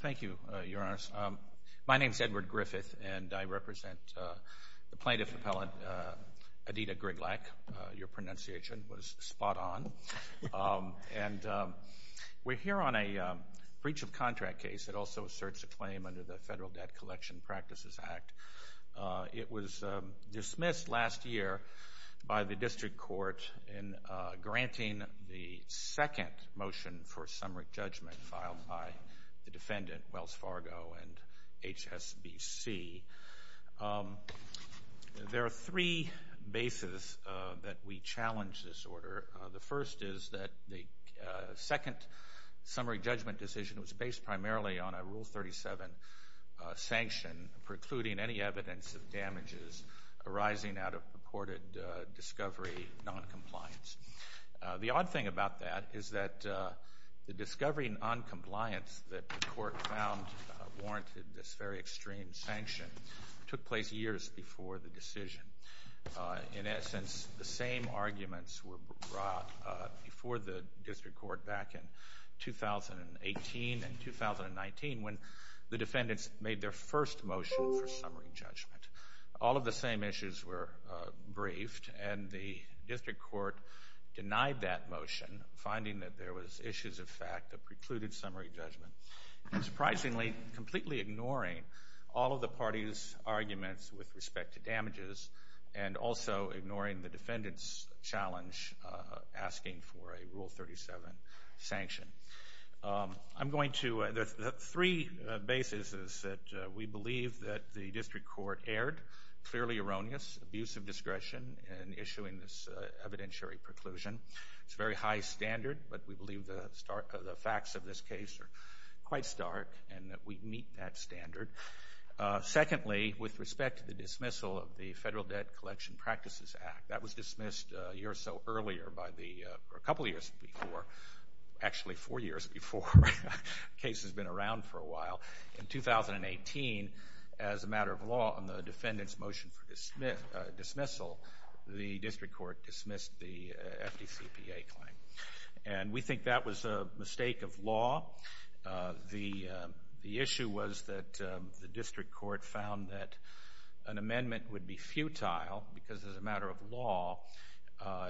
Thank you, Your Honors. My name is Edward Griffith, and I represent the plaintiff appellant, Edyta Gryglak. Your pronunciation was spot on. And we're here on a breach of contract case that also asserts a claim under the Federal Debt Collection Practices Act. It was dismissed last year by the district court in granting the second motion for summary judgment filed by the defendant, Wells Fargo and HSBC. There are three bases that we challenge this order. The first is that the second summary judgment decision was based primarily on a Rule 37 sanction precluding any evidence of damages arising out of purported discovery noncompliance. The odd thing about that is that the discovery noncompliance that the court found warranted this very extreme sanction took place years before the decision. In essence, the same arguments were brought before the district court back in 2018 and 2019 when the defendants made their first motion for summary judgment. All of the same issues were briefed, and the district court denied that motion, finding that there was issues of fact that precluded summary judgment. Surprisingly, completely ignoring all of the parties' arguments with respect to damages and also ignoring the defendant's challenge asking for a Rule 37 sanction. The three bases that we believe that the district court erred, clearly erroneous, abuse of discretion in issuing this evidentiary preclusion. It's a very high standard, but we believe the facts of this case are quite stark and that we meet that standard. Secondly, with respect to the dismissal of the Federal Debt Collection Practices Act, that was dismissed a year or so earlier, a couple of years before, actually four years before. The case has been around for a while. In 2018, as a matter of law on the defendant's motion for dismissal, the district court dismissed the FDCPA claim. And we think that was a mistake of law. The issue was that the district court found that an amendment would be futile because as a matter of law,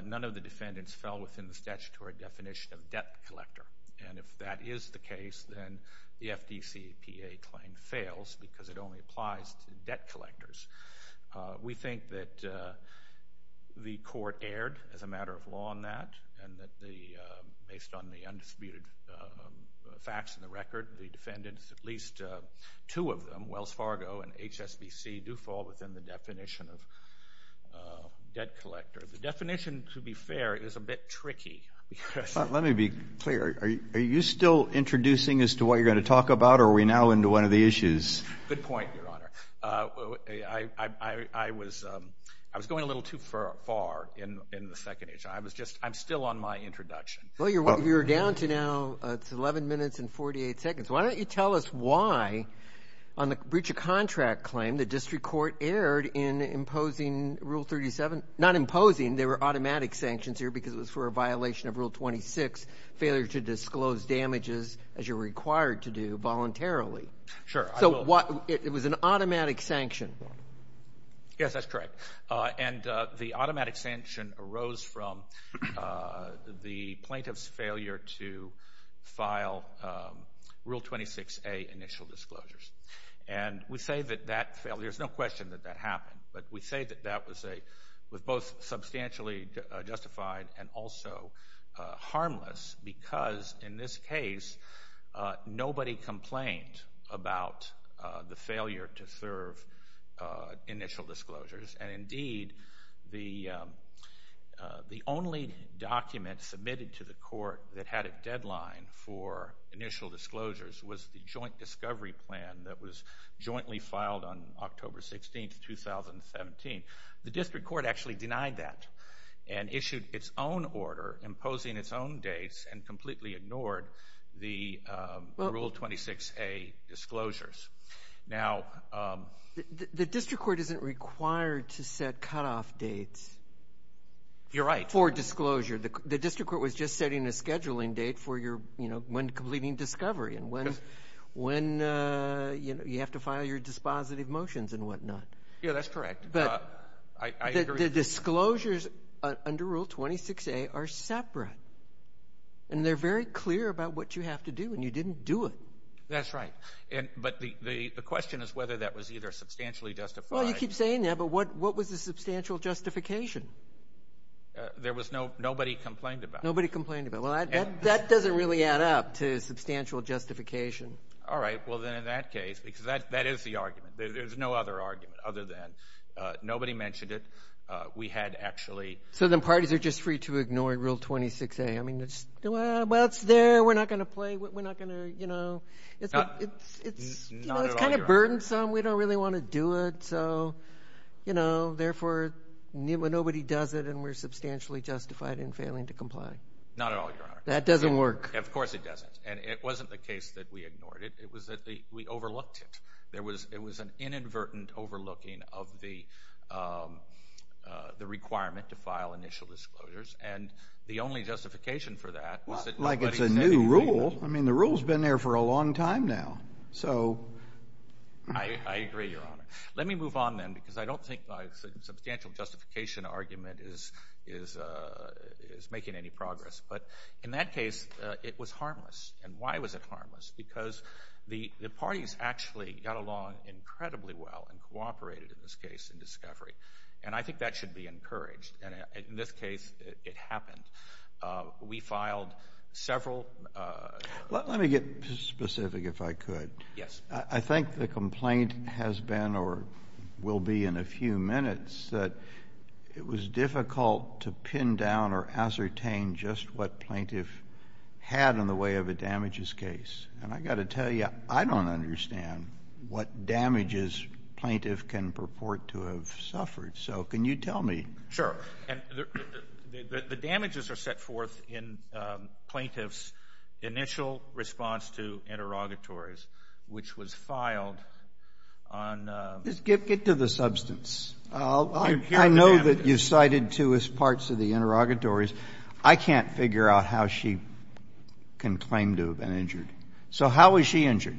none of the defendants fell within the statutory definition of debt collector. And if that is the case, then the FDCPA claim fails because it only applies to debt collectors. We think that the court erred as a matter of law on that, and that based on the undisputed facts in the record, the defendants, at least two of them, Wells Fargo and HSBC, do fall within the definition of debt collector. The definition, to be fair, is a bit tricky. Let me be clear. Are you still introducing as to what you're going to talk about, or are we now into one of the issues? Good point, Your Honor. I was going a little too far in the second issue. I'm still on my introduction. Well, you're down to now 11 minutes and 48 seconds. Why don't you tell us why on the breach of contract claim the district court erred in imposing Rule 37. Not imposing. There were automatic sanctions here because it was for a violation of Rule 26, failure to disclose damages as you're required to do voluntarily. Sure. It was an automatic sanction. Yes, that's correct. And the automatic sanction arose from the plaintiff's failure to file Rule 26A initial disclosures. And we say that that failure, there's no question that that happened, but we say that that was both substantially justified and also harmless because, in this case, nobody complained about the failure to serve initial disclosures. And, indeed, the only document submitted to the court that had a deadline for initial disclosures was the joint discovery plan that was jointly filed on October 16, 2017. The district court actually denied that and issued its own order imposing its own dates and completely ignored the Rule 26A disclosures. The district court isn't required to set cutoff dates. You're right. For disclosure. The district court was just setting a scheduling date for when completing discovery and when you have to file your dispositive motions and whatnot. Yeah, that's correct. The disclosures under Rule 26A are separate, and they're very clear about what you have to do, and you didn't do it. That's right. But the question is whether that was either substantially justified. Well, you keep saying that, but what was the substantial justification? There was nobody complained about it. Nobody complained about it. Well, that doesn't really add up to substantial justification. All right. Well, then, in that case, because that is the argument. There's no other argument other than nobody mentioned it. We had actually. So then parties are just free to ignore Rule 26A. I mean, well, it's there. We're not going to play. We're not going to, you know. It's kind of burdensome. We don't really want to do it. So, you know, therefore, nobody does it, and we're substantially justified in failing to comply. Not at all, Your Honor. That doesn't work. Of course it doesn't, and it wasn't the case that we ignored it. It was that we overlooked it. There was an inadvertent overlooking of the requirement to file initial disclosures, and the only justification for that was that nobody said anything about it. Well, like it's a new rule. I mean, the rule's been there for a long time now. So. I agree, Your Honor. Let me move on, then, because I don't think my substantial justification argument is making any progress. But in that case, it was harmless. And why was it harmless? Because the parties actually got along incredibly well and cooperated in this case in discovery. And I think that should be encouraged. And in this case, it happened. We filed several. Let me get specific, if I could. Yes. I think the complaint has been, or will be in a few minutes, that it was difficult to pin down or ascertain just what plaintiff had in the way of a damages case. And I've got to tell you, I don't understand what damages plaintiff can purport to have suffered. So can you tell me? Sure. And the damages are set forth in plaintiff's initial response to interrogatories, which was filed on... Just get to the substance. I know that you cited two as parts of the interrogatories. I can't figure out how she can claim to have been injured. So how was she injured?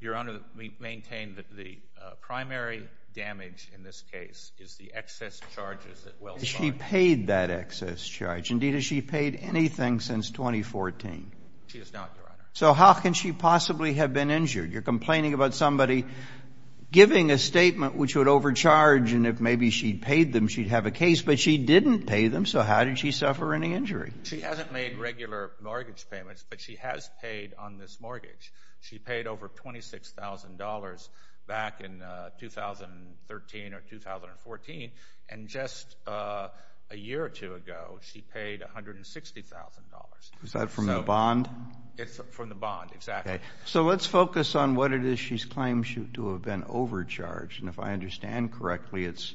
Your Honor, we maintain that the primary damage in this case is the excess charges that Wells filed. Has she paid that excess charge? Indeed, has she paid anything since 2014? She has not, Your Honor. So how can she possibly have been injured? You're complaining about somebody giving a statement which would overcharge, and if maybe she'd paid them, she'd have a case. But she didn't pay them, so how did she suffer any injury? She hasn't made regular mortgage payments, but she has paid on this mortgage. She paid over $26,000 back in 2013 or 2014. And just a year or two ago, she paid $160,000. Is that from the bond? It's from the bond, exactly. Okay. So let's focus on what it is she claims to have been overcharged. And if I understand correctly, it's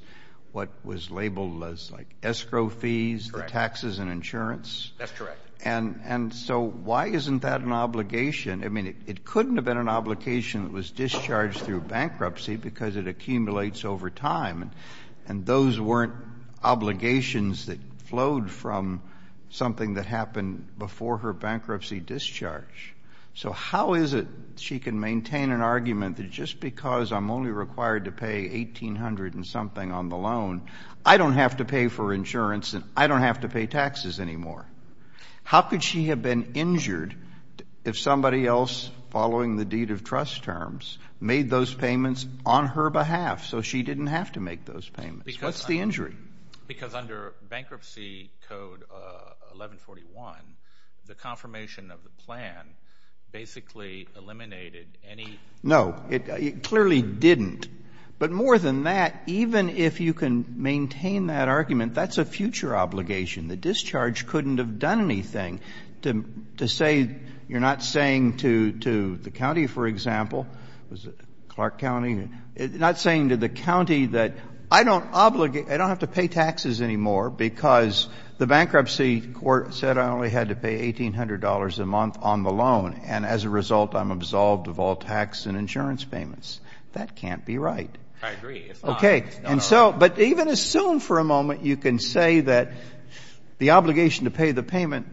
what was labeled as, like, escrow fees, the taxes and insurance? That's correct. And so why isn't that an obligation? I mean, it couldn't have been an obligation that was discharged through bankruptcy because it accumulates over time. And those weren't obligations that flowed from something that happened before her bankruptcy discharge. So how is it she can maintain an argument that just because I'm only required to pay $1,800 and something on the loan, I don't have to pay for insurance and I don't have to pay taxes anymore? How could she have been injured if somebody else, following the deed of trust terms, made those payments on her behalf so she didn't have to make those payments? What's the injury? Because under Bankruptcy Code 1141, the confirmation of the plan basically eliminated any ---- No. It clearly didn't. But more than that, even if you can maintain that argument, that's a future obligation. The discharge couldn't have done anything. To say you're not saying to the county, for example, Clark County, not saying to the county that I don't obligate, I don't have to pay taxes anymore because the bankruptcy court said I only had to pay $1,800 a month on the loan, and as a result I'm absolved of all tax and insurance payments, that can't be right. I agree. Okay. And so, but even assume for a moment you can say that the obligation to pay the payment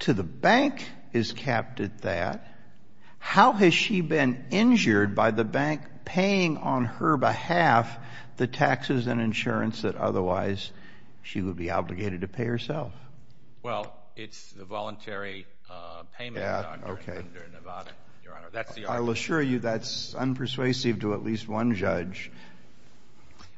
to the bank is capped at that. How has she been injured by the bank paying on her behalf the taxes and insurance that otherwise she would be obligated to pay herself? Well, it's the voluntary payment, Dr. Nevada, Your Honor. That's the argument. I'll assure you that's unpersuasive to at least one judge.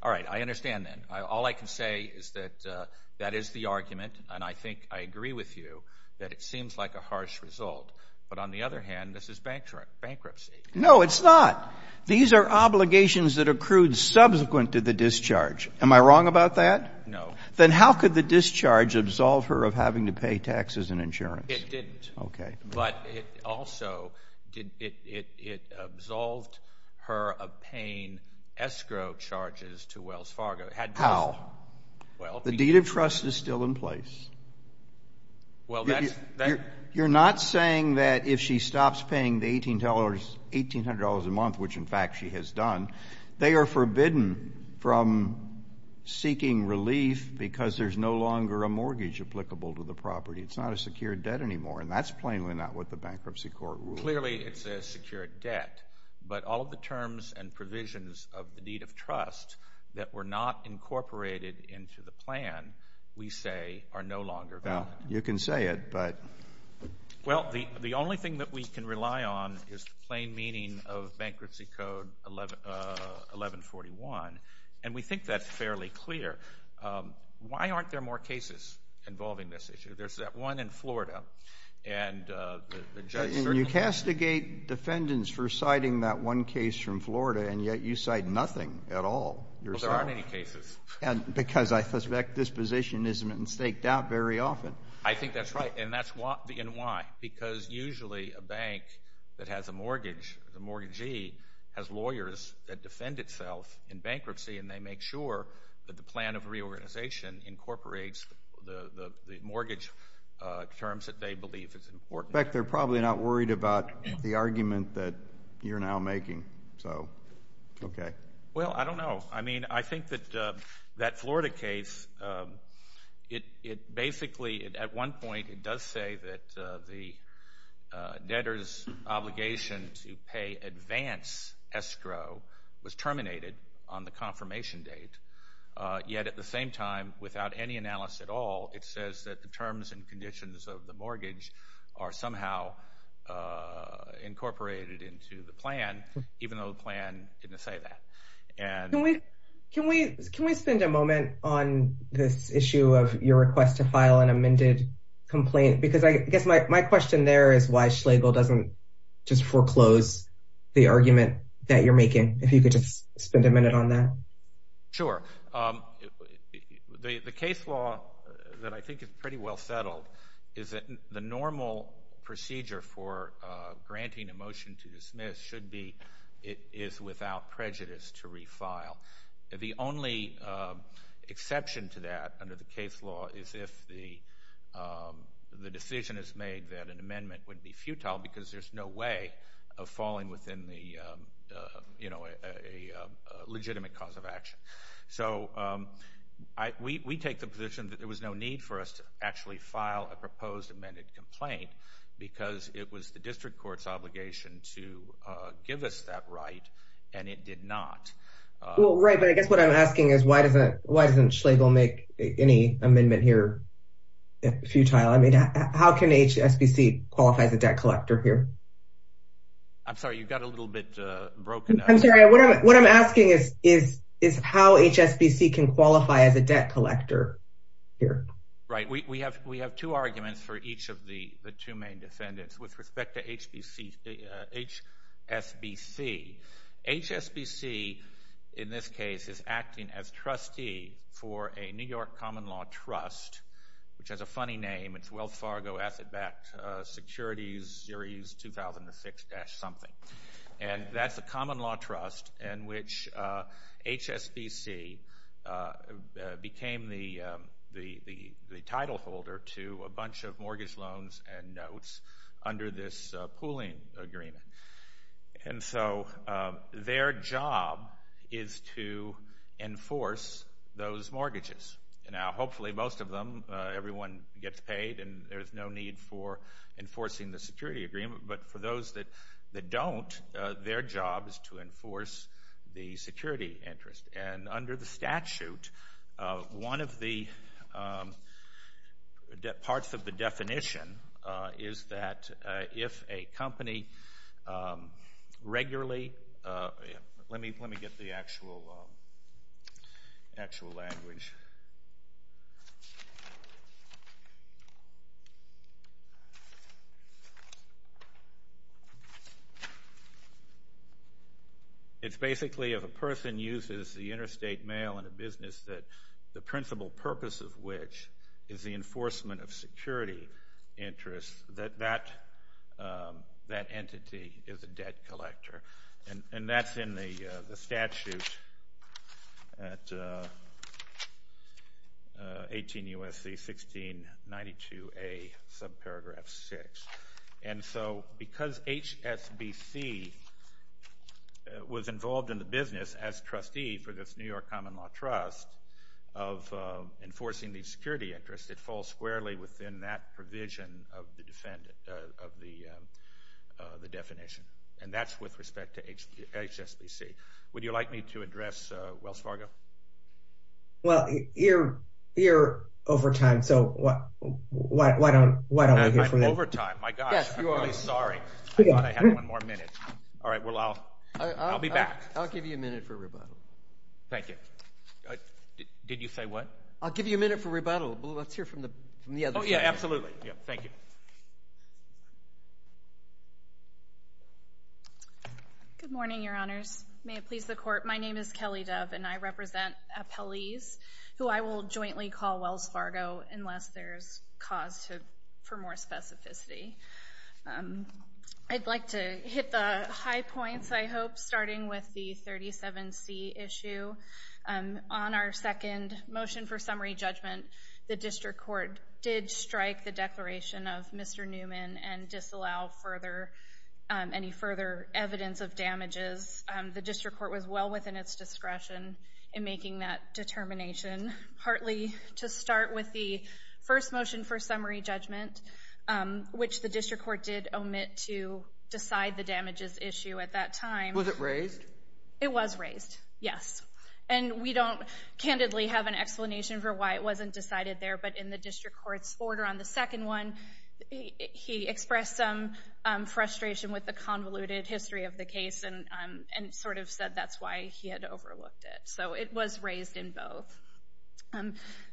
All right. I understand then. All I can say is that that is the argument, and I think I agree with you that it seems like a harsh result. But on the other hand, this is bankruptcy. No, it's not. These are obligations that accrued subsequent to the discharge. Am I wrong about that? No. Then how could the discharge absolve her of having to pay taxes and insurance? It didn't. Okay. But it also, it absolved her of paying escrow charges to Wells Fargo. How? The deed of trust is still in place. You're not saying that if she stops paying the $1,800 a month, which, in fact, she has done, they are forbidden from seeking relief because there's no longer a mortgage applicable to the property. It's not a secured debt anymore, and that's plainly not what the bankruptcy court ruled. Clearly, it's a secured debt. But all of the terms and provisions of the deed of trust that were not incorporated into the plan, we say, are no longer valid. Well, you can say it, but... Well, the only thing that we can rely on is the plain meaning of Bankruptcy Code 1141, and we think that's fairly clear. Why aren't there more cases involving this issue? There's that one in Florida, and the judge certainly... And you castigate defendants for citing that one case from Florida, and yet you cite nothing at all. Well, there aren't any cases. Because I suspect this position isn't staked out very often. I think that's right, and why? Because usually a bank that has a mortgage, a mortgagee, has lawyers that defend itself in bankruptcy, and they make sure that the plan of reorganization incorporates the mortgage terms that they believe is important. In fact, they're probably not worried about the argument that you're now making, so... That Florida case, it basically, at one point, it does say that the debtor's obligation to pay advance escrow was terminated on the confirmation date. Yet at the same time, without any analysis at all, it says that the terms and conditions of the mortgage are somehow incorporated into the plan, even though the plan didn't say that. Can we spend a moment on this issue of your request to file an amended complaint? Because I guess my question there is why Schlegel doesn't just foreclose the argument that you're making, if you could just spend a minute on that. Sure. The case law that I think is pretty well settled is that the normal procedure for granting a motion to dismiss should be it is without prejudice to refile. The only exception to that under the case law is if the decision is made that an amendment would be futile because there's no way of falling within a legitimate cause of action. So we take the position that there was no need for us to actually file a proposed amended complaint because it was the district court's obligation to give us that right, and it did not. Well, right, but I guess what I'm asking is why doesn't Schlegel make any amendment here futile? I mean, how can HSBC qualify as a debt collector here? I'm sorry, you got a little bit broken up. I'm sorry, what I'm asking is how HSBC can qualify as a debt collector here. Right. We have two arguments for each of the two main defendants with respect to HSBC. HSBC, in this case, is acting as trustee for a New York common law trust, which has a funny name. It's Wealth Fargo Asset Backed Securities Series 2006-something. And that's a common law trust in which HSBC became the title holder to a bunch of mortgage loans and notes under this pooling agreement. And so their job is to enforce those mortgages. Now, hopefully most of them, everyone gets paid and there's no need for enforcing the security agreement, but for those that don't, their job is to enforce the security interest. And under the statute, one of the parts of the definition is that if a company regularly Let me get the actual language. It's basically if a person uses the interstate mail in a business that the principal purpose of which is the enforcement of security interests, that that entity is a debt collector. And that's in the statute at 18 U.S.C. 1692A, subparagraph 6. And so because HSBC was involved in the business as trustee for this New York common law trust of enforcing the security interest, it falls squarely within that provision of the definition. And that's with respect to HSBC. Would you like me to address Wealth Fargo? Well, you're over time, so why don't we hear from them? I'm over time. My gosh. I'm really sorry. I thought I had one more minute. All right. Well, I'll be back. I'll give you a minute for a rebuttal. Thank you. Did you say what? I'll give you a minute for rebuttal. Let's hear from the other side. Oh, yeah, absolutely. Thank you. Good morning, Your Honors. May it please the Court. My name is Kelly Dove, and I represent appellees who I will jointly call Wealth Fargo unless there's cause for more specificity. I'd like to hit the high points, I hope, starting with the 37C issue. On our second motion for summary judgment, the district court did strike the declaration of Mr. Newman and disallow any further evidence of damages. The district court was well within its discretion in making that determination, partly to start with the first motion for summary judgment, which the district court did omit to decide the damages issue at that time. Was it raised? It was raised, yes. And we don't candidly have an explanation for why it wasn't decided there, but in the district court's order on the second one, he expressed some frustration with the convoluted history of the case and sort of said that's why he had overlooked it. So it was raised in both.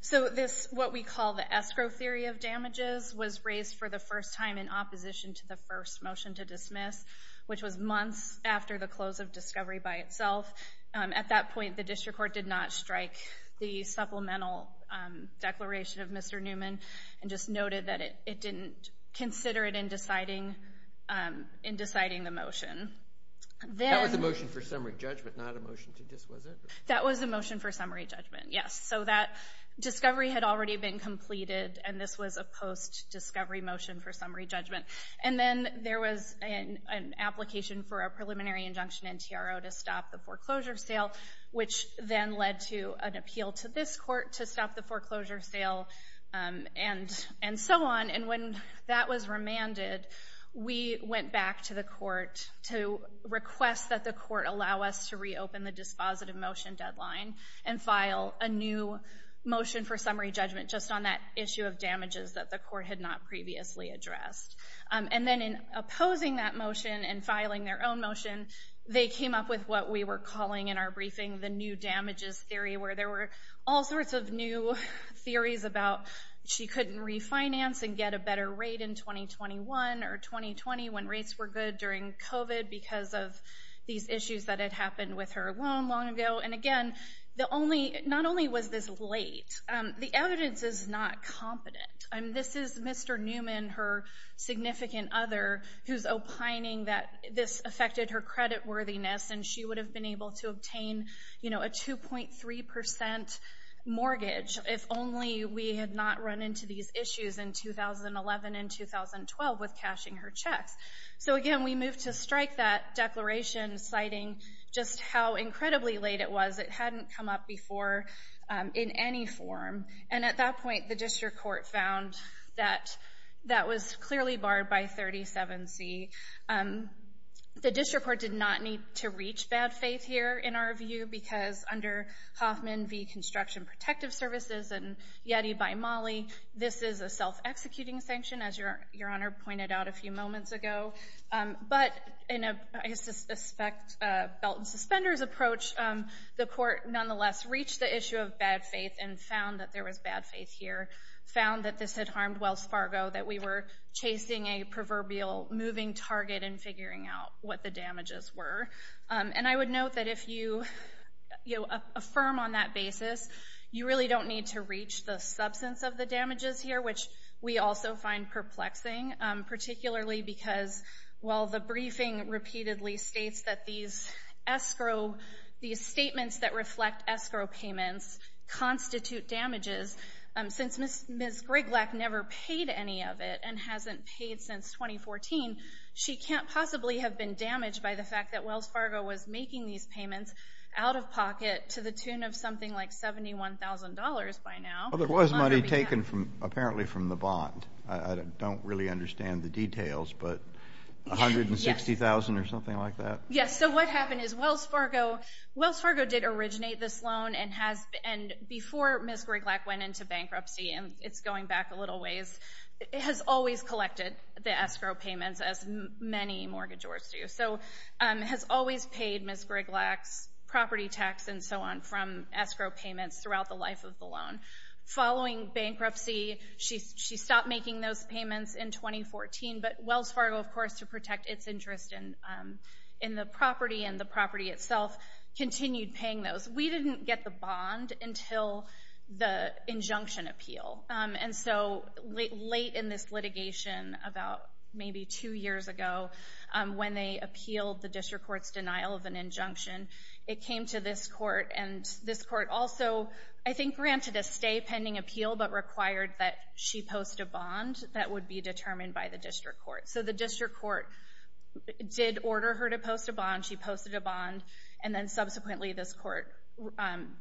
So what we call the escrow theory of damages was raised for the first time in opposition to the first motion to dismiss, which was months after the close of discovery by itself. At that point, the district court did not strike the supplemental declaration of Mr. Newman and just noted that it didn't consider it in deciding the motion. That was the motion for summary judgment, not a motion to dismiss it? That was the motion for summary judgment, yes. So that discovery had already been completed, and this was a post-discovery motion for summary judgment. And then there was an application for a preliminary injunction in TRO to stop the foreclosure sale, which then led to an appeal to this court to stop the foreclosure sale and so on. And when that was remanded, we went back to the court to request that the court allow us to reopen the dispositive motion deadline and file a new motion for summary judgment just on that issue of damages that the court had not previously addressed. And then in opposing that motion and filing their own motion, they came up with what we were calling in our briefing the new damages theory, where there were all sorts of new theories about she couldn't refinance and get a better rate in 2021 or 2020 when rates were good during COVID because of these issues that had happened with her loan long ago. And again, not only was this late, the evidence is not competent. This is Mr. Newman, her significant other, who's opining that this affected her creditworthiness, and she would have been able to obtain a 2.3 percent mortgage if only we had not run into these issues in 2011 and 2012 with cashing her checks. So again, we moved to strike that declaration, citing just how incredibly late it was. It hadn't come up before in any form. And at that point, the district court found that that was clearly barred by 37C. The district court did not need to reach bad faith here in our view because under Hoffman v. Construction Protective Services and Yeti by Mollie, this is a self-executing sanction, as Your Honor pointed out a few moments ago. But in a, I suspect, belt and suspenders approach, the court nonetheless reached the issue of bad faith and found that there was bad faith here, found that this had harmed Wells Fargo, that we were chasing a proverbial moving target in figuring out what the damages were. And I would note that if you affirm on that basis, you really don't need to reach the substance of the damages here, which we also find perplexing, particularly because while the briefing repeatedly states that these escrow, these statements that reflect escrow payments constitute damages, since Ms. Griglak never paid any of it and hasn't paid since 2014, she can't possibly have been damaged by the fact that Wells Fargo was making these payments out of pocket to the tune of something like $71,000 by now. Well, there was money taken apparently from the bond. I don't really understand the details, but $160,000 or something like that? Yes, so what happened is Wells Fargo did originate this loan and before Ms. Griglak went into bankruptcy, and it's going back a little ways, has always collected the escrow payments, as many mortgagors do, so has always paid Ms. Griglak's property tax and so on from escrow payments throughout the life of the loan. Following bankruptcy, she stopped making those payments in 2014, but Wells Fargo, of course, to protect its interest in the property and the property itself, continued paying those. We didn't get the bond until the injunction appeal, and so late in this litigation, about maybe two years ago, when they appealed the district court's denial of an injunction, it came to this court, and this court also, I think, granted a stay pending appeal, but required that she post a bond that would be determined by the district court. So the district court did order her to post a bond, she posted a bond, and then subsequently this court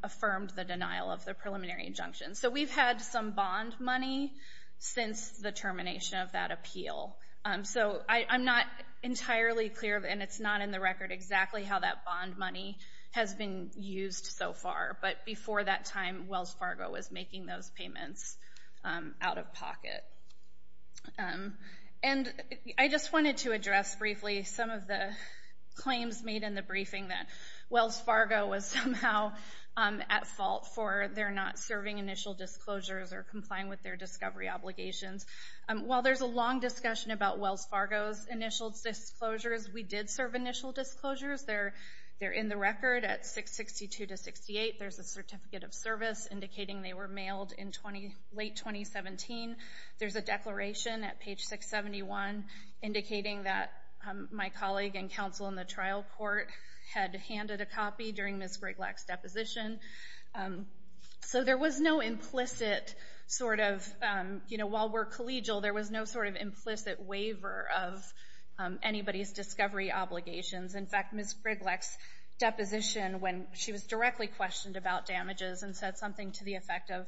affirmed the denial of the preliminary injunction. So we've had some bond money since the termination of that appeal. So I'm not entirely clear, and it's not in the record, exactly how that bond money has been used so far, but before that time, Wells Fargo was making those payments out of pocket. And I just wanted to address briefly some of the claims made in the briefing that Wells Fargo was somehow at fault for their not serving initial disclosures or complying with their discovery obligations. While there's a long discussion about Wells Fargo's initial disclosures, we did serve initial disclosures. They're in the record at 662-68. There's a certificate of service indicating they were mailed in late 2017. There's a declaration at page 671 indicating that my colleague and counsel in the trial court had handed a copy during Ms. Griglock's deposition. So there was no implicit sort of, you know, while we're collegial, there was no sort of implicit waiver of anybody's discovery obligations. In fact, Ms. Griglock's deposition, when she was directly questioned about damages and said something to the effect of,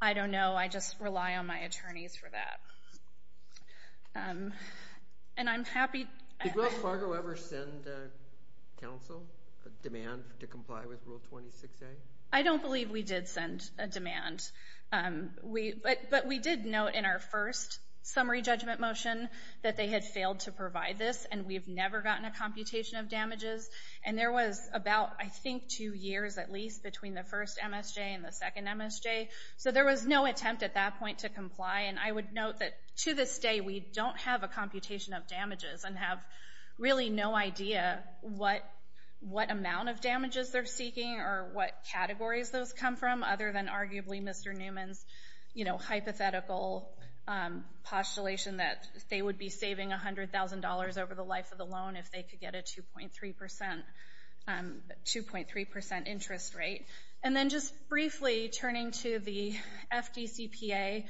I don't know, I just rely on my attorneys for that. And I'm happy. Did Wells Fargo ever send counsel a demand to comply with Rule 26A? I don't believe we did send a demand. But we did note in our first summary judgment motion that they had failed to provide this, and we've never gotten a computation of damages. And there was about, I think, two years at least between the first MSJ and the second MSJ. So there was no attempt at that point to comply. And I would note that to this day we don't have a computation of damages and have really no idea what amount of damages they're seeking or what categories those come from other than arguably Mr. Newman's, you know, life of the loan if they could get a 2.3% interest rate. And then just briefly turning to the FDCPA,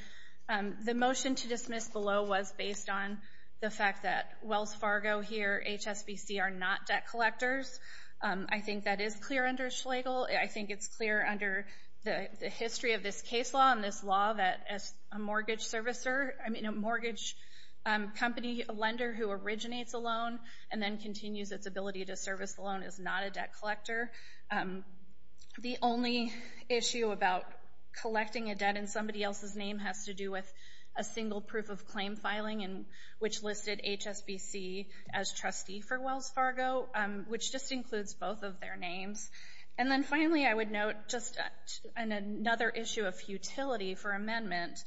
the motion to dismiss below was based on the fact that Wells Fargo here, HSBC, are not debt collectors. I think that is clear under Schlegel. I think it's clear under the history of this case law and this law that as a mortgage servicer, I mean a mortgage company lender who originates a loan and then continues its ability to service the loan is not a debt collector. The only issue about collecting a debt in somebody else's name has to do with a single proof of claim filing, which listed HSBC as trustee for Wells Fargo, which just includes both of their names. And then finally I would note just another issue of futility for amendment.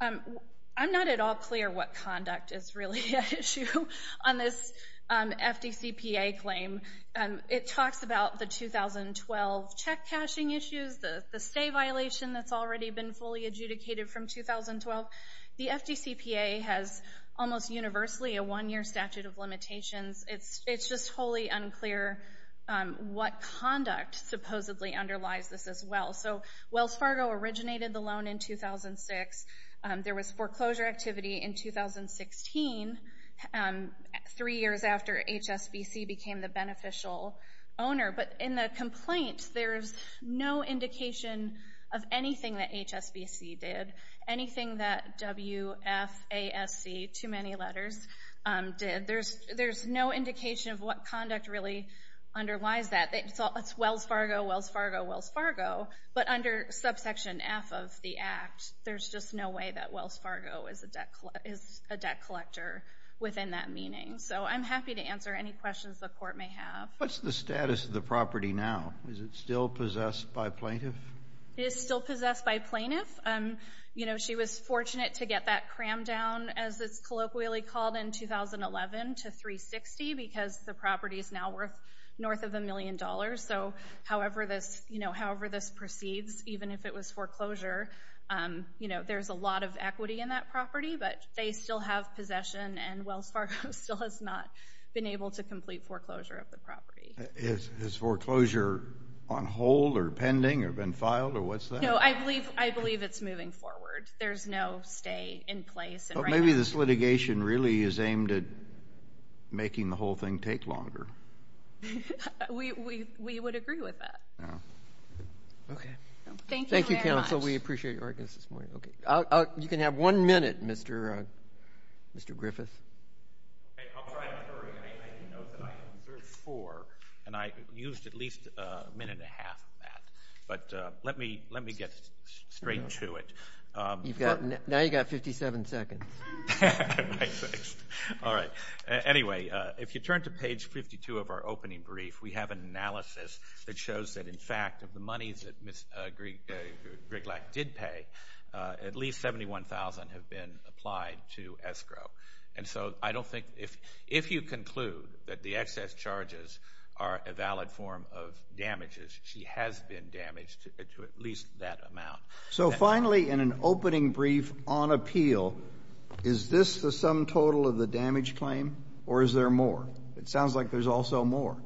I'm not at all clear what conduct is really at issue on this FDCPA claim. It talks about the 2012 check cashing issues, the stay violation that's already been fully adjudicated from 2012. The FDCPA has almost universally a one-year statute of limitations. It's just wholly unclear what conduct supposedly underlies this as well. So Wells Fargo originated the loan in 2006. There was foreclosure activity in 2016, three years after HSBC became the beneficial owner. But in the complaint, there's no indication of anything that HSBC did, anything that WFASC, too many letters, did. There's no indication of what conduct really underlies that. It's Wells Fargo, Wells Fargo, Wells Fargo. But under subsection F of the act, there's just no way that Wells Fargo is a debt collector within that meaning. So I'm happy to answer any questions the court may have. What's the status of the property now? Is it still possessed by plaintiff? It is still possessed by plaintiff. She was fortunate to get that crammed down, as it's colloquially called, in 2011 to 360, because the property is now worth north of a million dollars. So however this proceeds, even if it was foreclosure, there's a lot of equity in that property. But they still have possession, and Wells Fargo still has not been able to complete foreclosure of the property. Is foreclosure on hold or pending or been filed or what's that? So I believe it's moving forward. There's no stay in place. Maybe this litigation really is aimed at making the whole thing take longer. We would agree with that. Thank you very much. Thank you, counsel. We appreciate your audience this morning. You can have one minute, Mr. Griffith. I'll try to hurry. But let me get straight to it. Now you've got 57 seconds. All right. Anyway, if you turn to page 52 of our opening brief, we have an analysis that shows that, in fact, of the monies that Ms. Griglak did pay, at least $71,000 have been applied to escrow. And so I don't think if you conclude that the excess charges are a valid form of damages, she has been damaged to at least that amount. So finally, in an opening brief on appeal, is this the sum total of the damage claim or is there more? It sounds like there's also more,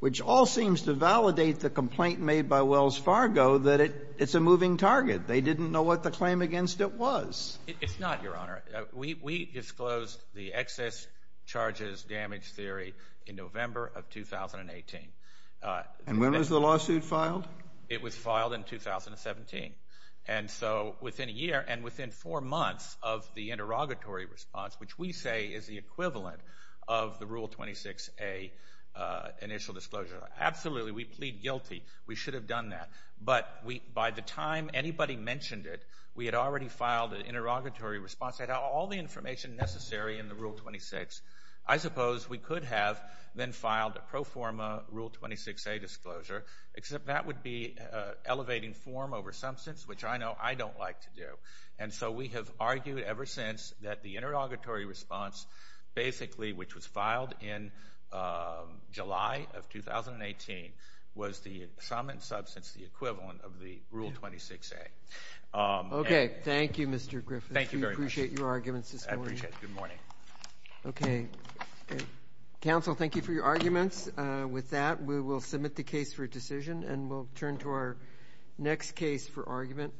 which all seems to validate the complaint made by Wells Fargo that it's a moving target. They didn't know what the claim against it was. It's not, Your Honor. We disclosed the excess charges damage theory in November of 2018. And when was the lawsuit filed? It was filed in 2017. And so within a year and within four months of the interrogatory response, which we say is the equivalent of the Rule 26A initial disclosure. Absolutely, we plead guilty. We should have done that. But by the time anybody mentioned it, we had already filed an interrogatory response. I had all the information necessary in the Rule 26. I suppose we could have then filed a pro forma Rule 26A disclosure, except that would be elevating form over substance, which I know I don't like to do. And so we have argued ever since that the interrogatory response basically, which was filed in July of 2018, was the sum and substance, the equivalent of the Rule 26A. Okay. Thank you, Mr. Griffiths. Thank you very much. We appreciate your arguments this morning. I appreciate it. Good morning. Okay. Counsel, thank you for your arguments. With that, we will submit the case for decision, and we'll turn to our next case for argument.